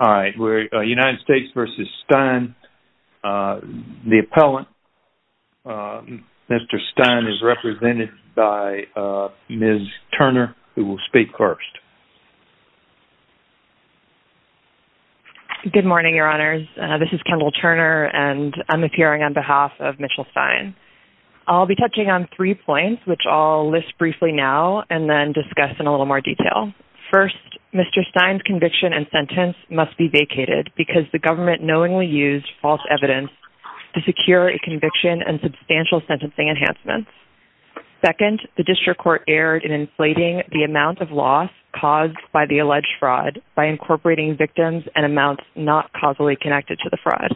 United States v. Stein. The appellant, Mr. Stein, is represented by Ms. Turner, who will speak first. Good morning, Your Honors. This is Kendall Turner, and I'm appearing on behalf of Mitchell Stein. I'll be touching on three points, which I'll list briefly now and then discuss in a little more detail. First, Mr. Stein's conviction and sentence must be vacated because the government knowingly used false evidence to secure a conviction and substantial sentencing enhancements. Second, the district court erred in inflating the amount of loss caused by the alleged fraud by incorporating victims and amounts not causally connected to the fraud.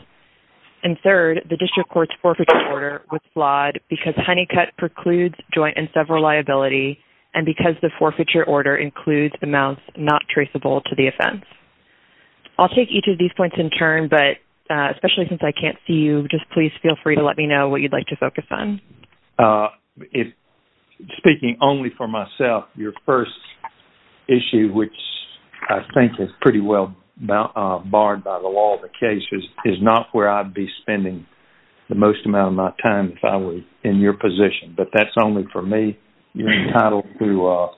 And third, the district court's forfeiture order was flawed because Honeycutt precludes joint and several liability and because the forfeiture order includes amounts not traceable to the offense. I'll take each of these points in turn, but especially since I can't see you, just please feel free to let me know what you'd like to focus on. Speaking only for myself, your first issue, which I think is pretty well barred by the law of the case, is not where I'd be spending the most amount of my time if I were in your position. But that's only for me. You're entitled to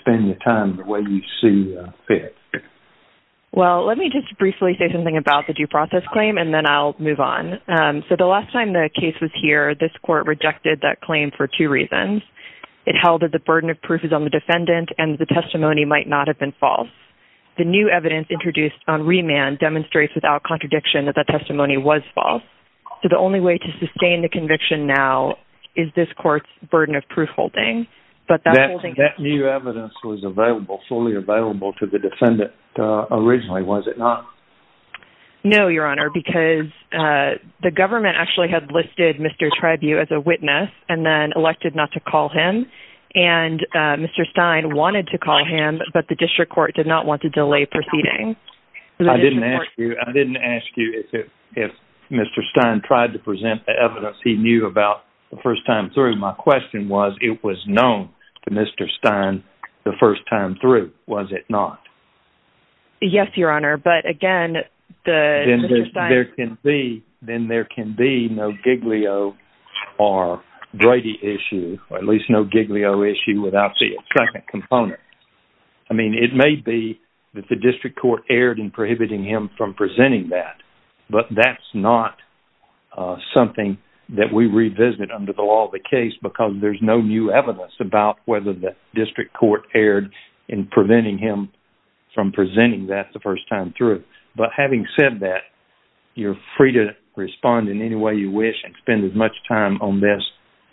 spend your time the way you see fit. Well, let me just briefly say something about the due process claim, and then I'll move on. So the last time the case was here, this court rejected that claim for two reasons. It held that the burden of proof is on the defendant and the testimony might not have been false. The new evidence introduced on remand demonstrates without contradiction that that testimony was false. So the only way to sustain the conviction now is this court's burden of proof holding. That new evidence was available, fully available to the defendant originally, was it not? No, your honor, because the government actually had listed Mr. Tribue as a witness and then elected not to call him. And Mr. Stein wanted to call him, but the district court did not want to delay proceedings. I didn't ask you if Mr. Stein tried to present the evidence he knew about the first time through. My question was, it was known to Mr. Stein the first time through, was it not? Yes, your honor, but again, Mr. Stein... Then there can be no Giglio or Brady issue, or at least no Giglio issue without the second component. I mean, it may be that the district court erred in prohibiting him from presenting that, but that's not something that we revisited under the law of the case because there's no new evidence about whether the district court erred in preventing him from presenting that the first time through. But having said that, you're free to respond in any way you wish and spend as much time on this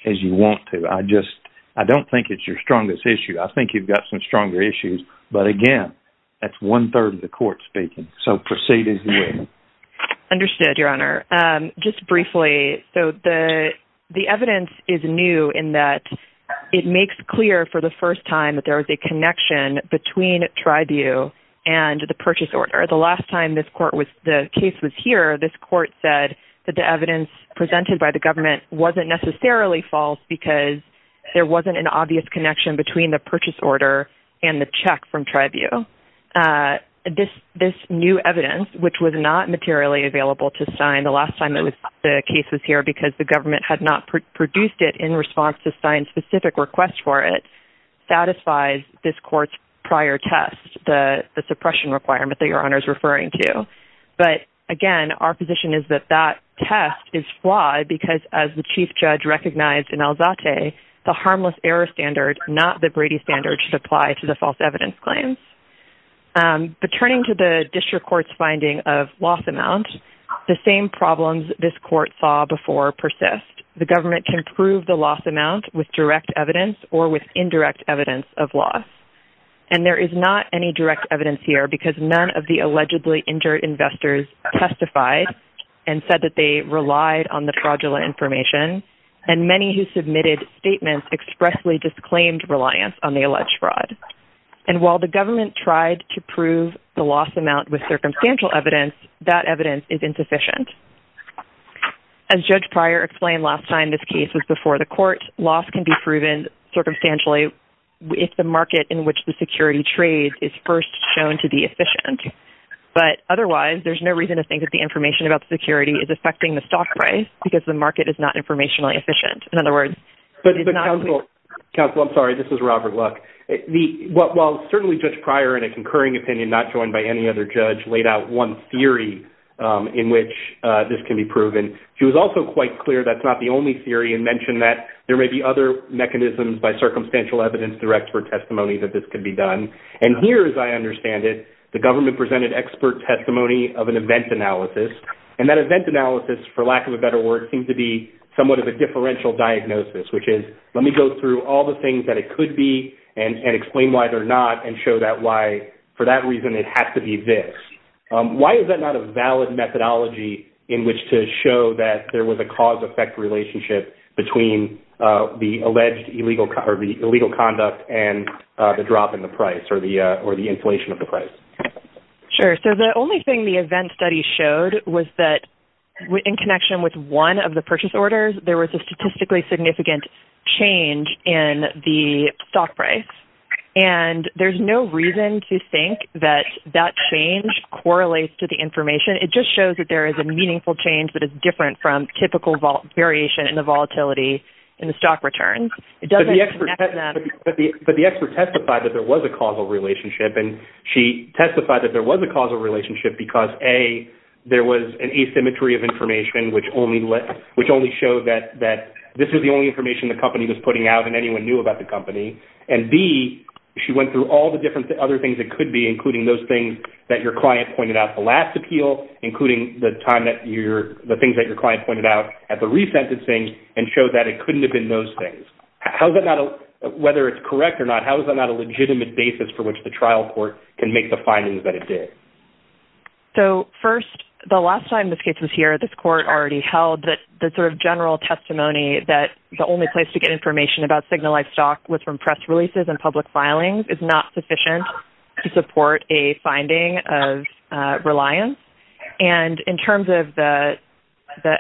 as you want to. I just, I don't think it's your strongest issue. I think you've got some stronger issues, but again, that's one-third of the court speaking, so proceed as you wish. Understood, your honor. Just briefly, so the evidence is new in that it makes clear for the first time that there is a connection between Tribune and the purchase order. The last time this court was, the case was here, this court said that the evidence presented by the government wasn't necessarily false because there wasn't an obvious connection between the purchase order and the check from Tribune. This new evidence, which was not materially available to sign the last time the case was here because the government had not produced it in response to sign specific requests for it, satisfies this court's prior test, the suppression requirement that your honor is referring to. But again, our position is that that test is flawed because as the chief judge recognized in Alzate, the harmless error standard, not the Brady standard, should apply to the false evidence claims. But turning to the district court's finding of loss amount, the same problems this court saw before persist. The government can prove the loss amount with direct evidence or with indirect evidence of loss. And there is not any direct evidence here because none of the allegedly injured investors testified and said that they relied on the fraudulent information. And many who submitted statements expressly disclaimed reliance on the alleged fraud. And while the government tried to prove the loss amount with circumstantial evidence, that evidence is insufficient. As Judge Pryor explained last time this case was before the court, loss can be proven circumstantially if the market in which the security trades is first shown to be efficient. But otherwise, there's no reason to think that the information about security is affecting the stock price because the market is not informationally efficient. In other words, it's not... Counsel, I'm sorry, this is Robert Luck. While certainly Judge Pryor in a concurring opinion, not joined by any other judge, laid out one theory in which this can be proven, she was also quite clear that's not the only theory and mentioned that there may be other mechanisms by circumstantial evidence direct for testimony that this could be done. And here, as I understand it, the government presented expert testimony of an event analysis. And that event analysis, for lack of a better word, seems to be somewhat of a differential diagnosis, which is let me go through all the things that it could be and explain why they're not and show that why for that reason it has to be this. Why is that not a valid methodology in which to show that there was a cause-effect relationship between the alleged illegal conduct and the drop in the price or the inflation of the price? Sure. So the only thing the event study showed was that in connection with one of the purchase orders, there was a statistically significant change in the stock price. And there's no reason to think that that change correlates to the information. It just shows that there is a meaningful change, but it's different from typical variation in the volatility in the stock returns. But the expert testified that there was a causal relationship, and she testified that there was a causal relationship because, A, there was an asymmetry of information which only showed that this was the only information the company was putting out and anyone knew about the company. And, B, she went through all the different other things it could be, that your client pointed out at the last appeal, including the things that your client pointed out at the resentencing, and showed that it couldn't have been those things. Whether it's correct or not, how is that not a legitimate basis for which the trial court can make the findings that it did? So, first, the last time this case was here, this court already held that the sort of general testimony that the only place to get information about signalized stock was from press releases and public filings is not sufficient to support a finding of reliance. And in terms of the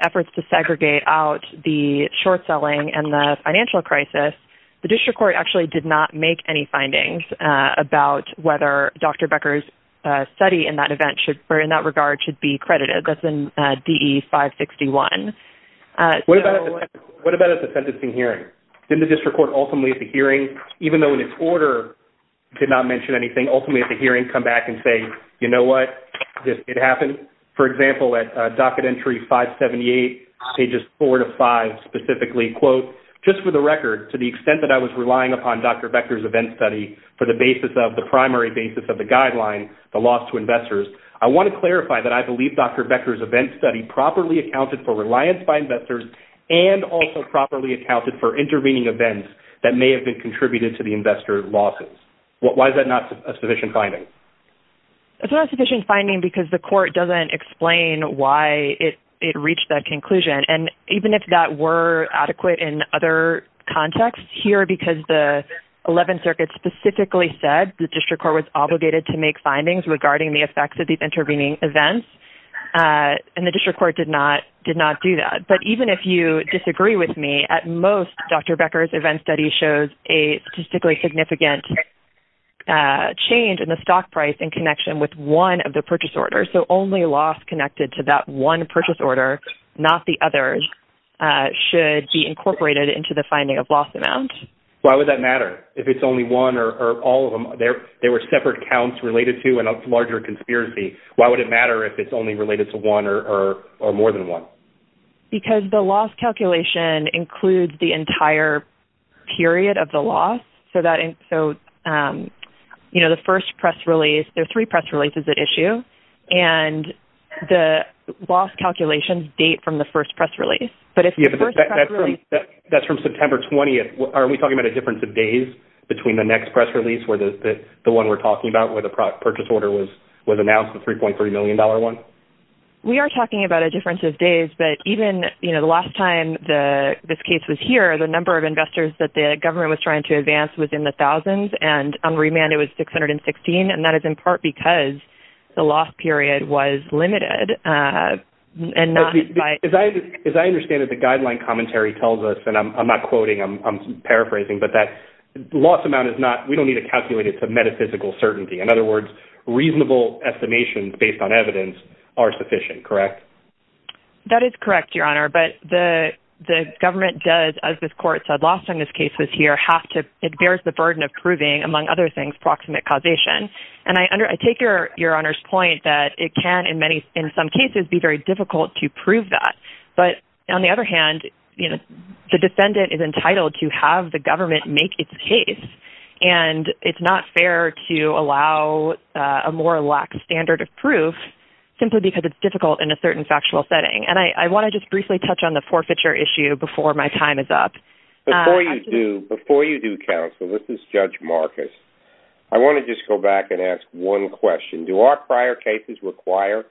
efforts to segregate out the short-selling and the financial crisis, the district court actually did not make any findings about whether Dr. Becker's study in that event or in that regard should be credited. That's in DE 561. What about at the sentencing hearing? Didn't the district court ultimately at the hearing, even though in its order it did not mention anything, ultimately at the hearing come back and say, you know what, it happened? For example, at docket entry 578, pages 4 to 5 specifically, quote, just for the record, to the extent that I was relying upon Dr. Becker's event study for the primary basis of the guideline, the loss to investors, I want to clarify that I believe Dr. Becker's event study properly accounted for reliance by investors and also properly accounted for intervening events that may have been contributed to the investor losses. Why is that not a sufficient finding? It's not a sufficient finding because the court doesn't explain why it reached that conclusion. And even if that were adequate in other contexts, here because the Eleventh Circuit specifically said the district court was obligated to make findings regarding the effects of these intervening events and the district court did not do that. But even if you disagree with me, at most Dr. Becker's event study shows a statistically significant change in the stock price in connection with one of the purchase orders. So only loss connected to that one purchase order, not the others, should be incorporated into the finding of loss amounts. Why would that matter if it's only one or all of them? There were separate counts related to a larger conspiracy. Why would it matter if it's only related to one or more than one? Because the loss calculation includes the entire period of the loss. So the first press release, there are three press releases at issue, and the loss calculations date from the first press release. That's from September 20th. Are we talking about a difference of days between the next press release, the one we're talking about where the purchase order was announced, the $3.3 million one? We are talking about a difference of days, but even the last time this case was here, the number of investors that the government was trying to advance was in the thousands, and on remand it was 616, and that is in part because the loss period was limited. As I understand it, the guideline commentary tells us, and I'm not quoting, I'm paraphrasing, but that the loss amount is not, we don't need to calculate it to metaphysical certainty. In other words, reasonable estimations based on evidence are sufficient, correct? That is correct, Your Honor, but the government does, as this Court said last time this case was here, it bears the burden of proving, among other things, proximate causation. And I take Your Honor's point that it can, in some cases, be very difficult to prove that. But on the other hand, the defendant is entitled to have the government make its case, and it's not fair to allow a more lax standard of proof simply because it's difficult in a certain factual setting. And I want to just briefly touch on the forfeiture issue before my time is up. Before you do, counsel, this is Judge Marcus. I want to just go back and ask one question. Do our prior cases require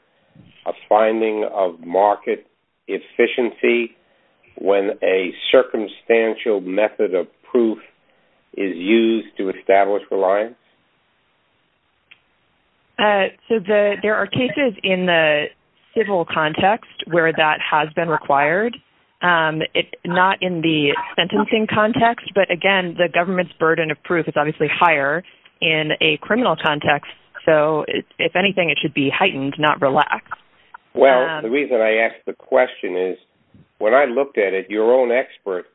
a finding of market efficiency when a circumstantial method of proof is used to establish reliance? So there are cases in the civil context where that has been required. Not in the sentencing context, but again, the government's burden of proof is obviously higher in a criminal context. So if anything, it should be heightened, not relaxed. Well, the reason I ask the question is when I looked at it, your own expert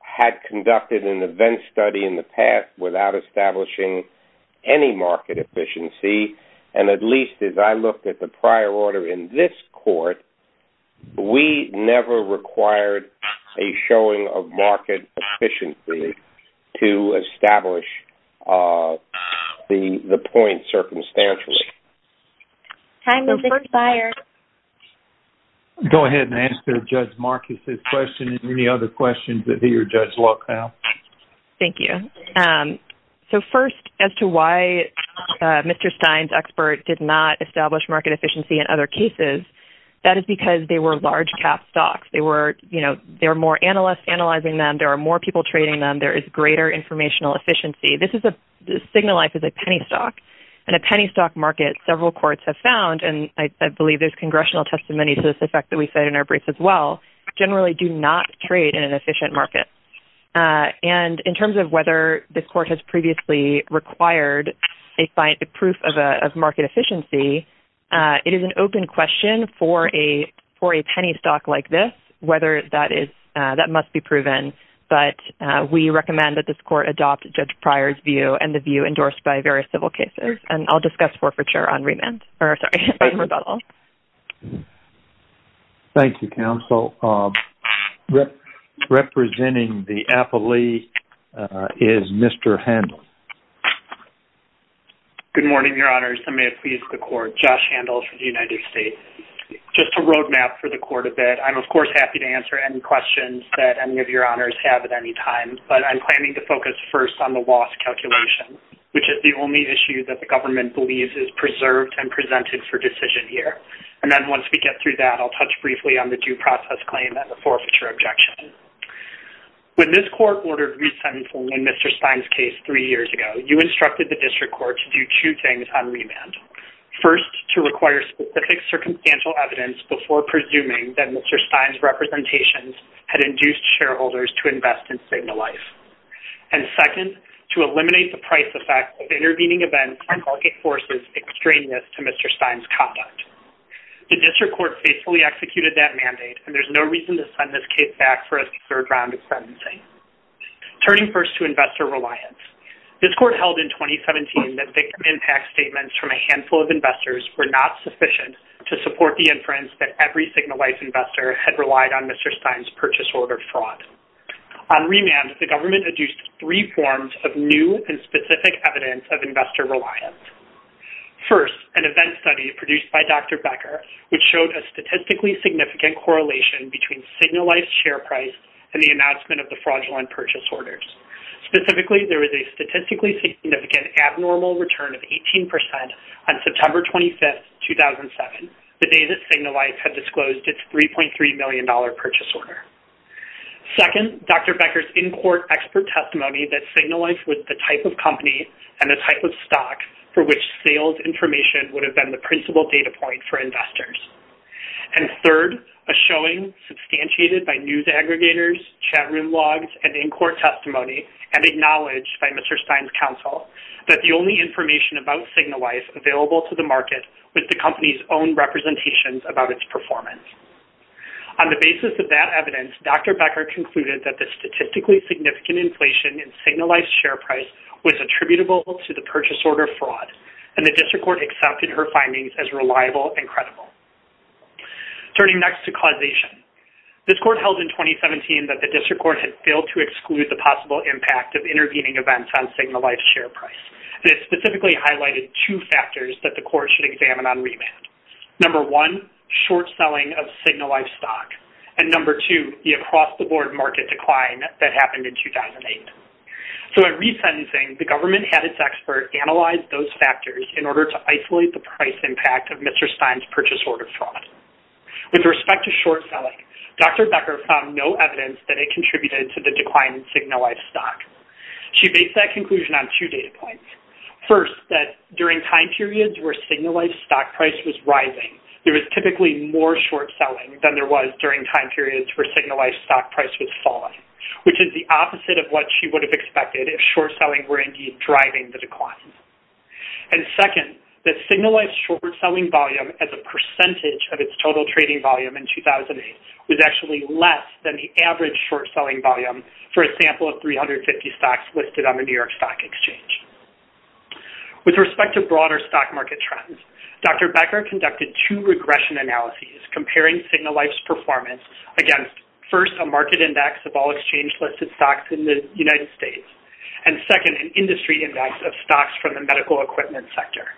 had conducted an event study in the past without establishing any market efficiency. And at least as I looked at the prior order in this court, we never required a showing of market efficiency to establish the point circumstantially. Time has expired. Go ahead and answer Judge Marcus' question and any other questions that he or Judge Luck have. Thank you. So first, as to why Mr. Stein's expert did not establish market efficiency in other cases, that is because they were large-cap stocks. They were more analysts analyzing them. There are more people trading them. There is greater informational efficiency. Signalife is a penny stock. In a penny stock market, several courts have found, and I believe there's congressional testimony to this effect that we said in our brief as well, generally do not trade in an efficient market. And in terms of whether this court has previously required a proof of market efficiency, it is an open question for a penny stock like this whether that must be proven. But we recommend that this court adopt Judge Pryor's view and the view endorsed by various civil cases. And I'll discuss forfeiture on remand. Or, sorry, on rebuttal. Thank you, counsel. Representing the affilee is Mr. Handel. Good morning, Your Honors. I may have pleased the court. Josh Handel from the United States. Just a roadmap for the court a bit. I'm, of course, happy to answer any questions that any of Your Honors have at any time. But I'm planning to focus first on the loss calculation, which is the only issue that the government believes is preserved and presented for decision here. And then once we get through that, I'll touch briefly on the due process claim and the forfeiture objection. When this court ordered resentful in Mr. Stein's case three years ago, you instructed the district court to do two things on remand. First, to require specific circumstantial evidence before presuming that Mr. Stein's representations had induced shareholders to invest in Signalife. And second, to eliminate the price effect of intervening events or market forces extraneous to Mr. Stein's conduct. The district court faithfully executed that mandate, and there's no reason to send this case back for a third round of sentencing. Turning first to investor reliance, this court held in 2017 that victim impact statements from a handful of investors were not sufficient to support the inference that every Signalife investor had relied on Mr. Stein's purchase order fraud. On remand, the government adduced three forms of new and specific evidence of investor reliance. First, an event study produced by Dr. Becker, which showed a statistically significant correlation between Signalife's share price and the announcement of the fraudulent purchase orders. Specifically, there was a statistically significant abnormal return of 18% on September 25, 2007, the day that Signalife had disclosed its $3.3 million purchase order. Second, Dr. Becker's in-court expert testimony that Signalife was the type of company and the type of stock for which sales information would have been the principal data point for investors. And third, a showing substantiated by news aggregators, chatroom logs, and in-court testimony, and acknowledged by Mr. Stein's counsel that the only information about Signalife was available to the market with the company's own representations about its performance. On the basis of that evidence, Dr. Becker concluded that the statistically significant inflation in Signalife's share price was attributable to the purchase order fraud, and the district court accepted her findings as reliable and credible. Turning next to causation. This court held in 2017 that the district court had failed to exclude the possible impact of intervening events on Signalife's share price, and it specifically highlighted two factors that the court should examine on remand. Number one, short selling of Signalife stock, and number two, the across-the-board market decline that happened in 2008. So in resentencing, the government had its expert analyze those factors in order to isolate the price impact of Mr. Stein's purchase order fraud. With respect to short selling, Dr. Becker found no evidence that it contributed to the decline in Signalife stock. She based that conclusion on two data points. First, that during time periods where Signalife stock price was rising, there was typically more short selling than there was during time periods where Signalife stock price was falling, which is the opposite of what she would have expected if short selling were indeed driving the decline. And second, that Signalife's short selling volume as a percentage of its total trading volume in 2008 was actually less than the average short selling volume for a sample of 350 stocks listed on the New York Stock Exchange. With respect to broader stock market trends, Dr. Becker conducted two regression analyses comparing Signalife's performance against, first, a market index of all exchange listed stocks in the United States, and second, an industry index of stocks from the medical equipment sector.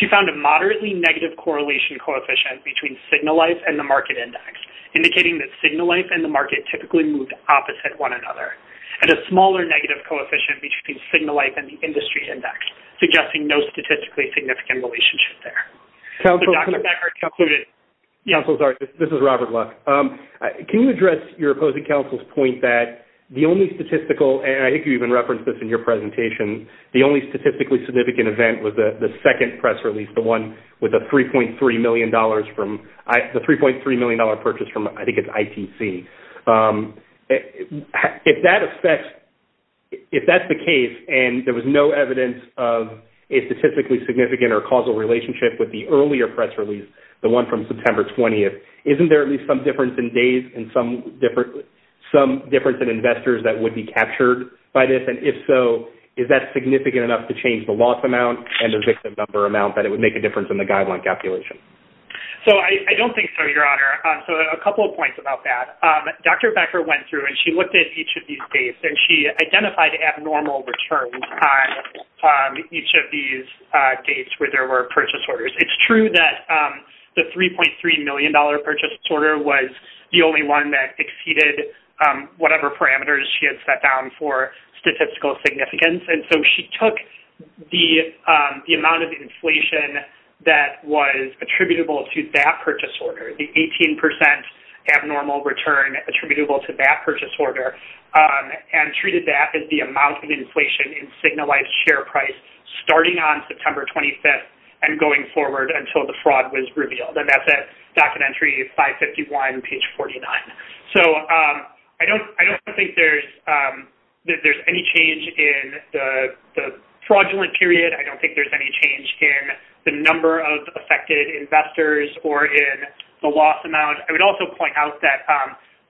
She found a moderately negative correlation coefficient between Signalife and the market index, indicating that Signalife and the market typically moved opposite one another, and a smaller negative coefficient between Signalife and the industry index, suggesting no statistically significant relationship there. So Dr. Becker concluded... Council, sorry, this is Robert Luck. Can you address your opposing council's point that the only statistical, and I think you even referenced this in your presentation, the only statistically significant event was the second press release, the one with the $3.3 million purchase from, I think it's ITC. If that's the case, and there was no evidence of a statistically significant or causal relationship with the earlier press release, the one from September 20th, isn't there at least some difference in days and some difference in investors that would be captured by this? And if so, is that significant enough to change the loss amount and the victim number amount that it would make a difference in the guideline calculation? So I don't think so, Your Honor. So a couple of points about that. Dr. Becker went through, and she looked at each of these dates, and she identified abnormal returns on each of these dates where there were purchase orders. It's true that the $3.3 million purchase order was the only one that exceeded whatever parameters she had set down for statistical significance, and so she took the amount of inflation that was attributable to that purchase order, the 18% abnormal return attributable to that purchase order, and treated that as the amount of inflation in signalized share price starting on September 25th and going forward until the fraud was revealed. And that's at Documentary 551, page 49. So I don't think there's any change in the fraudulent period. I don't think there's any change in the number of affected investors or in the loss amount. I would also point out that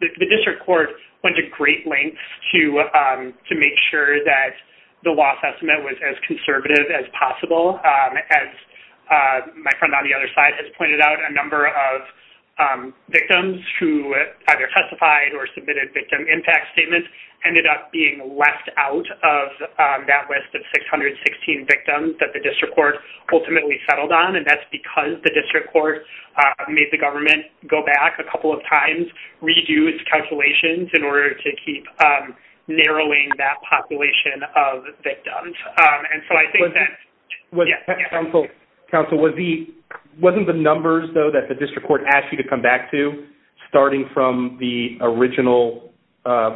the district court went to great lengths to make sure that the loss estimate was as conservative as possible. As my friend on the other side has pointed out, a number of victims who either testified or submitted victim impact statements ended up being left out of that list of 616 victims that the district court ultimately settled on, and that's because the district court made the government go back a couple of times, reduced calculations in order to keep narrowing that population of victims. And so I think that... Council, wasn't the numbers, though, that the district court asked you to come back to starting from the original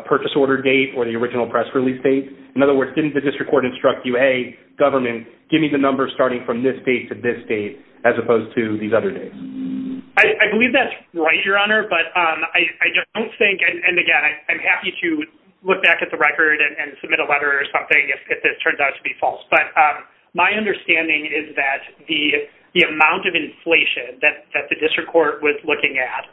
purchase order date or the original press release date? In other words, didn't the district court instruct you, hey, government, give me the numbers starting from this date to this date as opposed to these other dates? I believe that's right, Your Honor, but I don't think, and again, I'm happy to look back at the record and submit a letter or something if this turns out to be false, but my understanding is that the amount of inflation that the district court was looking at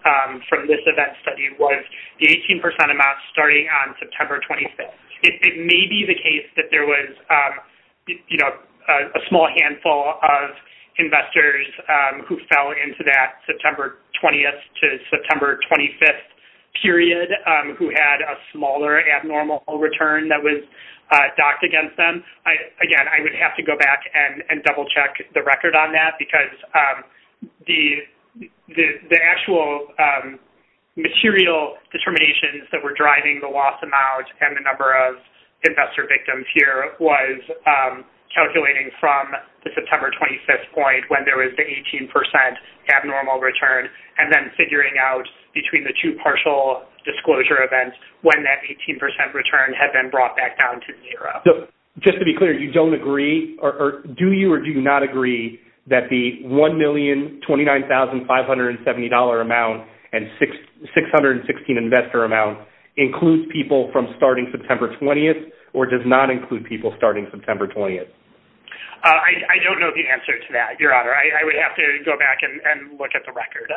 from this event study was the 18% amount starting on September 25th. It may be the case that there was, you know, a small handful of investors who fell into that September 20th to September 25th period who had a smaller abnormal return that was docked against them. Again, I would have to go back and double-check the record on that because the actual material determinations that were driving the loss amount and the number of investor victims here was calculating from the September 25th point when there was the 18% abnormal return and then figuring out between the two partial disclosure events when that 18% return had been brought back down to zero. Just to be clear, you don't agree, or do you or do you not agree that the $1,029,570 amount and $616 investor amount includes people from starting September 20th or does not include people starting September 20th? I don't know the answer to that, Your Honor. I would have to go back and look at the record.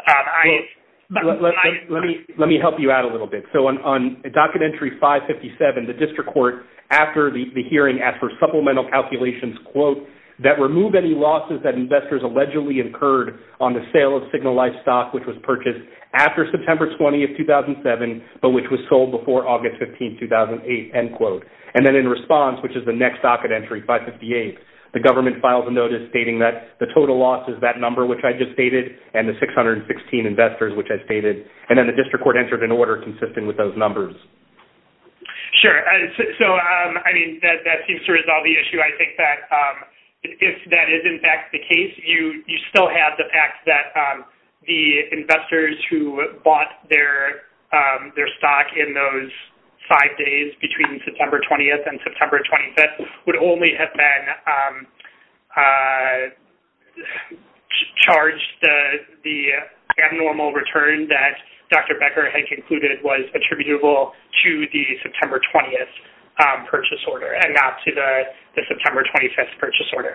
Let me help you out a little bit. So on Document Entry 557, the district court, after the hearing, asked for supplemental calculations, quote, that remove any losses that investors allegedly incurred on the sale of signalized stock which was purchased after September 20th, 2007, but which was sold before August 15th, 2008, end quote. And then in response, which is the next docket entry, 558, the government filed a notice stating that the total loss is that number which I just stated and the 616 investors which I stated. And then the district court entered an order consistent with those numbers. Sure. So, I mean, that seems to resolve the issue. I think that if that is, in fact, the case, you still have the fact that the investors who bought their stock in those five days between September 20th and September 25th would only have been charged the abnormal return that Dr. Becker had concluded was attributable to the September 20th purchase order and not to the September 25th purchase order.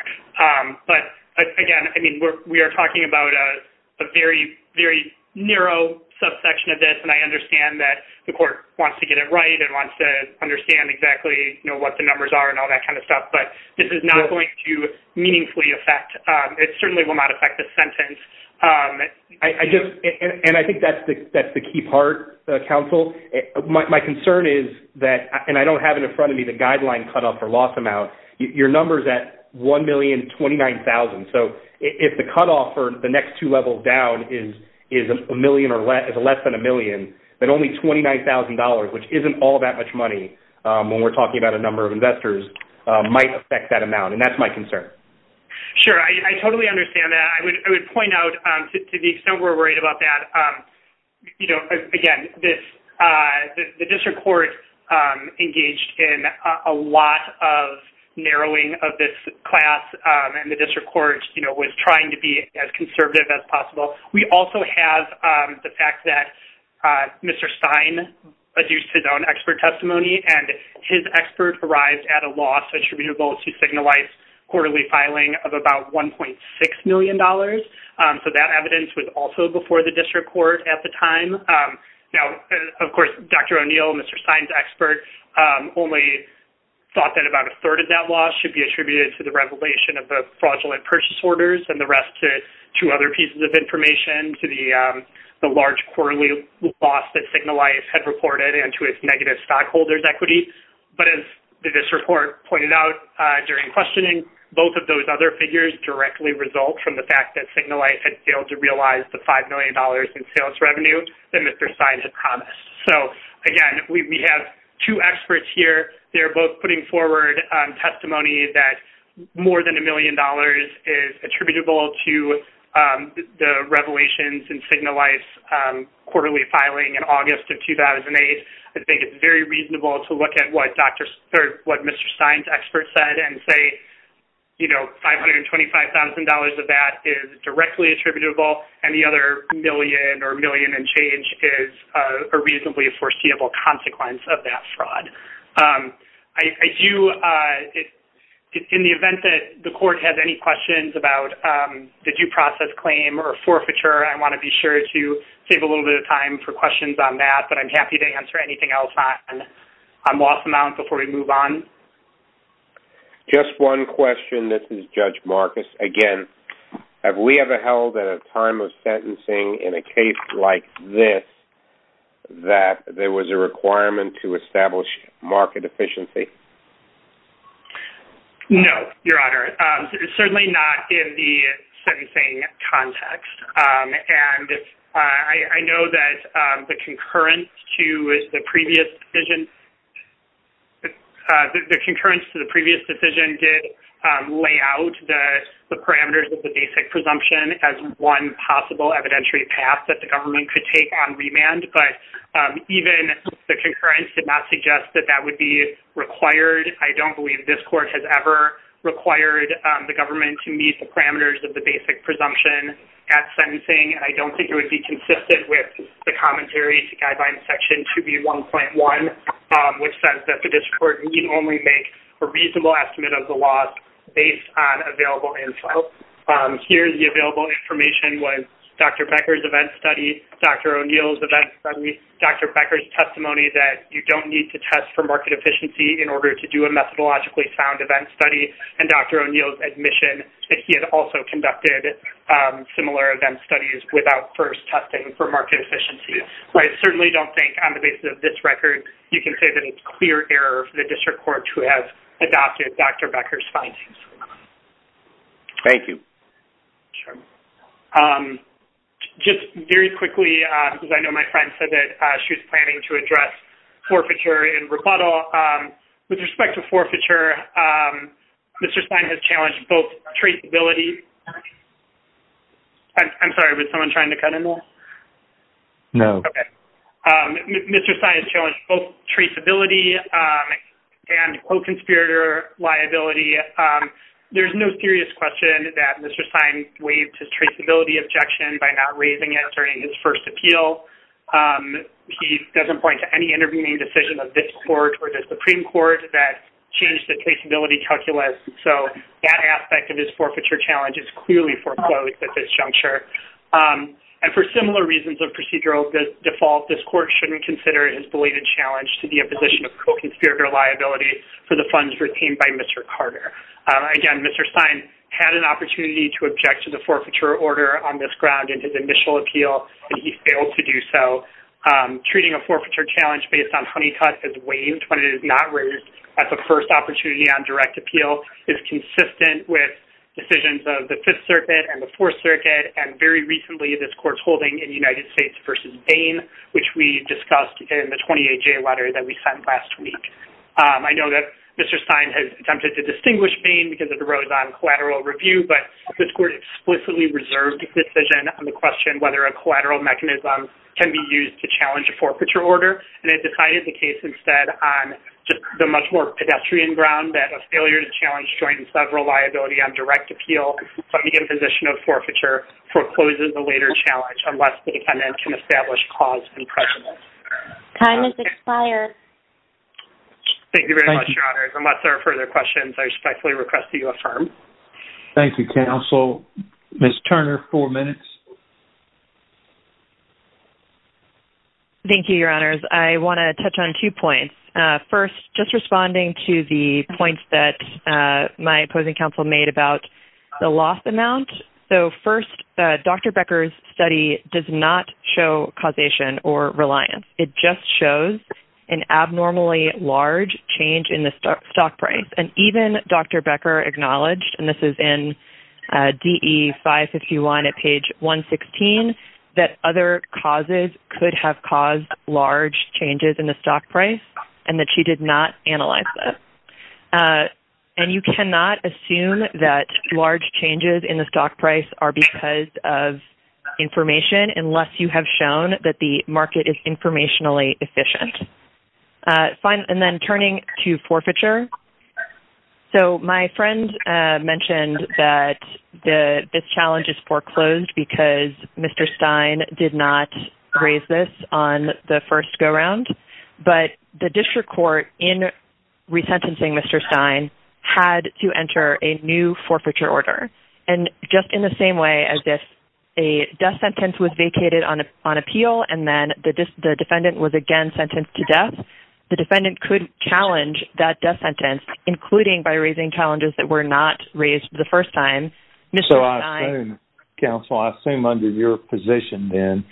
But, again, I mean, we are talking about a very, very narrow subsection of this, and I understand that the court wants to get it right and wants to understand exactly what the numbers are and all that kind of stuff, but this is not going to meaningfully affect... It certainly will not affect the sentence. I just... And I think that's the key part, counsel. My concern is that... And I don't have it in front of me, the guideline cut-off for loss amount. Your number's at $1,029,000. So if the cut-off for the next two levels down is less than a million, then only $29,000, which isn't all that much money when we're talking about a number of investors, might affect that amount, and that's my concern. Sure, I totally understand that. I would point out, to the extent we're worried about that, you know, again, this... The district court engaged in a lot of narrowing of this class, and the district court was trying to be as conservative as possible. We also have the fact that Mr. Stein adduced his own expert testimony, and his expert arrived at a loss attributable to signalized quarterly filing of about $1.6 million. So that evidence was also before the district court at the time. Now, of course, Dr. O'Neill, Mr. Stein's expert, only thought that about a third of that loss should be attributed to the revelation of the fraudulent purchase orders and the rest to other pieces of information, to the large quarterly loss that Signalite had reported and to its negative stockholders' equity. But as the district court pointed out during questioning, both of those other figures directly result from the fact that Signalite had failed to realize the $5 million in sales revenue that Mr. Stein had promised. So, again, we have two experts here. They're both putting forward testimony that more than $1 million is attributable to the revelations in Signalite's quarterly filing in August of 2008. I think it's very reasonable to look at what Mr. Stein's expert said and say, you know, $525,000 of that is directly attributable and the other million or million and change is a reasonably foreseeable consequence of that fraud. I do... In the event that the court has any questions about the due process claim or forfeiture, I want to be sure to save a little bit of time for questions on that, but I'm happy to answer anything else on loss amount before we move on. Just one question. This is Judge Marcus. Again, have we ever held at a time of sentencing in a case like this that there was a requirement to establish market efficiency? No, Your Honor. Certainly not in the sentencing context. And I know that the concurrence to the previous decision... The concurrence to the previous decision did lay out the parameters of the basic presumption as one possible evidentiary path that the government could take on remand, but even the concurrence did not suggest that that would be required. I don't believe this court has ever required the government to meet the parameters of the basic presumption at sentencing, and I don't think it would be consistent with the commentary to Guidelines Section 2B1.1, which says that the district court need only make a reasonable estimate of the loss based on available info. Here, the available information was Dr. Becker's event study, Dr. O'Neill's event study, Dr. Becker's testimony that you don't need to test for market efficiency in order to do a methodologically sound event study, and Dr. O'Neill's admission that he had also conducted similar event studies without first testing for market efficiency. I certainly don't think, on the basis of this record, you can say that it's clear error for the district court to have adopted Dr. Becker's findings. Thank you. Just very quickly, because I know my friend said that she was planning to address forfeiture and rebuttal. With respect to forfeiture, Mr. Stein has challenged both traceability I'm sorry, was someone trying to cut in there? No. Mr. Stein has challenged both traceability and co-conspirator liability. There's no serious question that Mr. Stein waived his traceability objection by not raising it during his first appeal. He doesn't point to any intervening decision of this court or the Supreme Court that changed the traceability calculus, so that aspect of his forfeiture challenge is clearly foreclosed at this juncture. And for similar reasons of procedural default, this court shouldn't consider his belated challenge to be a position of co-conspirator liability for the funds retained by Mr. Carter. Again, Mr. Stein had an opportunity to object to the forfeiture order on this ground in his initial appeal, and he failed to do so. Treating a forfeiture challenge based on honeycut as waived when it is not raised at the first opportunity on direct appeal is consistent with decisions of the Fifth Circuit and the Fourth Circuit, and very recently, this court's holding in United States v. Bain, which we discussed in the 28-J letter that we sent last week. I know that Mr. Stein has attempted to distinguish Bain because it arose on collateral review, but this court explicitly reserved its decision on the question whether a collateral mechanism can be used to challenge a forfeiture order, and it decided the case instead on the much more pedestrian ground that a failure to challenge joint and sub-reliability on direct appeal put me in position of forfeiture for closing the later challenge unless the defendant can establish cause and precedent. Time has expired. Thank you very much, Your Honors. Unless there are further questions, I respectfully request that you affirm. Thank you, counsel. Ms. Turner, four minutes. Thank you, Your Honors. I want to touch on two points. First, just responding to the points that my opposing counsel made about the loss amount. First, Dr. Becker's study does not show causation or reliance. It just shows an abnormally large change in the stock price, and even Dr. Becker acknowledged, and this is in DE 551 at page 116, that other causes could have caused large changes in the stock price and that she did not analyze them. And you cannot assume that large changes in the stock price are because of information unless you have shown that the market is informationally efficient. And then turning to forfeiture, so my friend mentioned that this challenge is foreclosed because Mr. Stein did not raise this on the first go-round, but the district court, in resentencing Mr. Stein, had to enter a new forfeiture order. And just in the same way as if a death sentence was vacated on appeal and then the defendant was again sentenced to death, the defendant could challenge that death sentence, including by raising challenges that were not raised the first time. So I assume, counsel, I assume under your position then,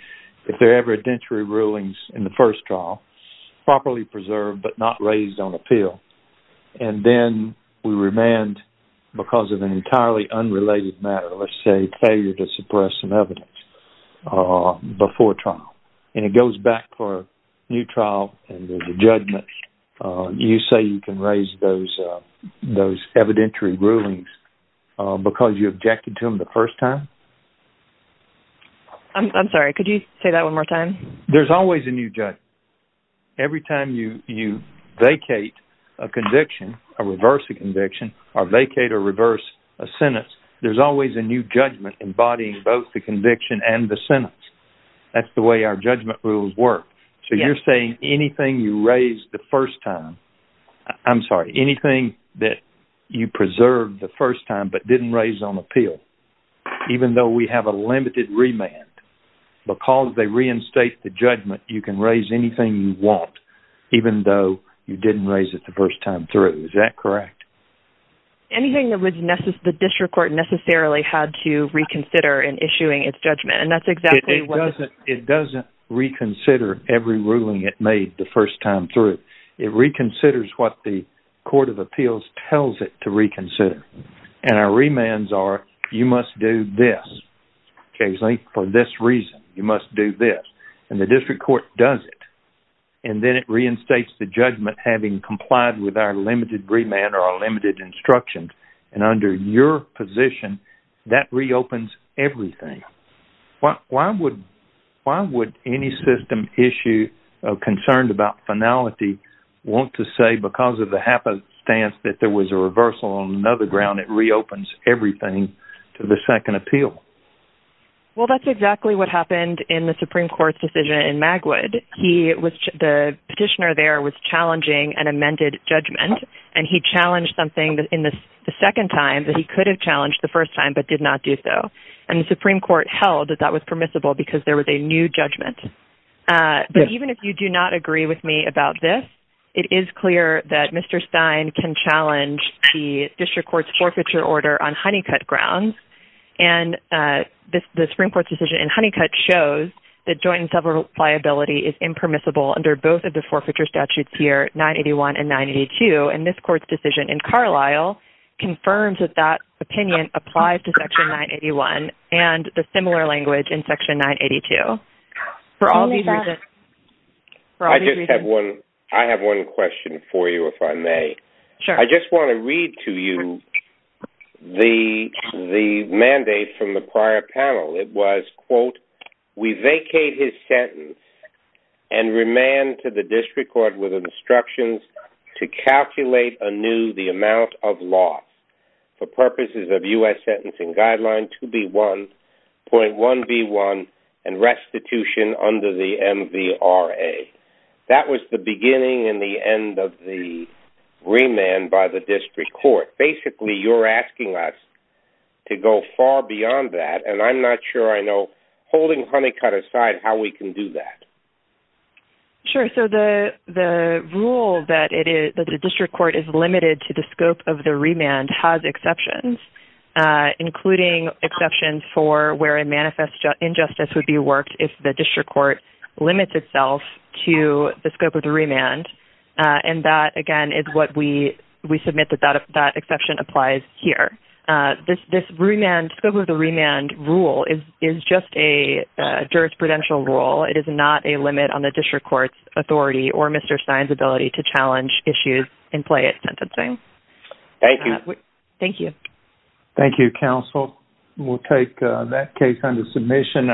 if there are evidentiary rulings in the first trial, properly preserved but not raised on appeal, and then we remand because of an entirely unrelated matter, let's say failure to suppress some evidence before trial. And it goes back for a new trial and there's a judgment. You say you can raise those evidentiary rulings because you objected to them the first time? I'm sorry, could you say that one more time? There's always a new judgment. Every time you vacate a conviction or reverse a conviction or vacate or reverse a sentence, there's always a new judgment embodying both the conviction and the sentence. That's the way our judgment rules work. So you're saying anything you raised the first time, I'm sorry, anything that you preserved the first time but didn't raise on appeal, even though we have a limited remand, because they reinstate the judgment, you can raise anything you want even though you didn't raise it the first time through. Is that correct? Anything that the district court necessarily had to reconsider in issuing its judgment, and that's exactly... It doesn't reconsider every ruling it made the first time through. It reconsiders what the court of appeals tells it to reconsider. And our remands are, you must do this, occasionally, for this reason. You must do this. And the district court does it. And then it reinstates the judgment having complied with our limited remand or our limited instructions. And under your position, that reopens everything. Why would any system issue concerned about finality want to say because of the happenstance that there was a reversal on another ground, it reopens everything to the second appeal? Well, that's exactly what happened in the Supreme Court's decision in Magwood. The petitioner there was challenging an amended judgment, and he challenged something the second time that he could have challenged the first time but did not do so. And the Supreme Court held that that was permissible because there was a new judgment. But even if you do not agree with me about this, it is clear that Mr. Stein can challenge the district court's forfeiture order on Honeycutt grounds. And the Supreme Court's decision in Honeycutt shows that joint and self-repliability is impermissible under both of the forfeiture statutes here, 981 and 982. And this court's decision in Carlisle confirms that that opinion applies to Section 981 and the similar language in Section 982. For all these reasons... I just have one question for you, if I may. I just want to read to you the mandate from the prior panel. It was, quote, we vacate his sentence and remand to the district court with instructions to calculate anew the amount of loss for purposes of U.S. Sentencing Guideline 2B1.1B1 and restitution under the MVRA. That was the beginning and the end of the remand by the district court. Basically, you're asking us to go far beyond that, and I'm not sure I know, holding Honeycutt aside, how we can do that. Sure. So the rule that the district court is limited to the scope of the remand has exceptions, including exceptions for where a manifest injustice would be worked if the district court limits itself to the scope of the remand. And that, again, is what we submit that that exception applies here. This scope of the remand rule is just a jurisprudential rule. It is not a limit on the district court's authority or Mr. Stein's ability to challenge issues and play at sentencing. Thank you. Thank you, counsel. We'll take that case under submission.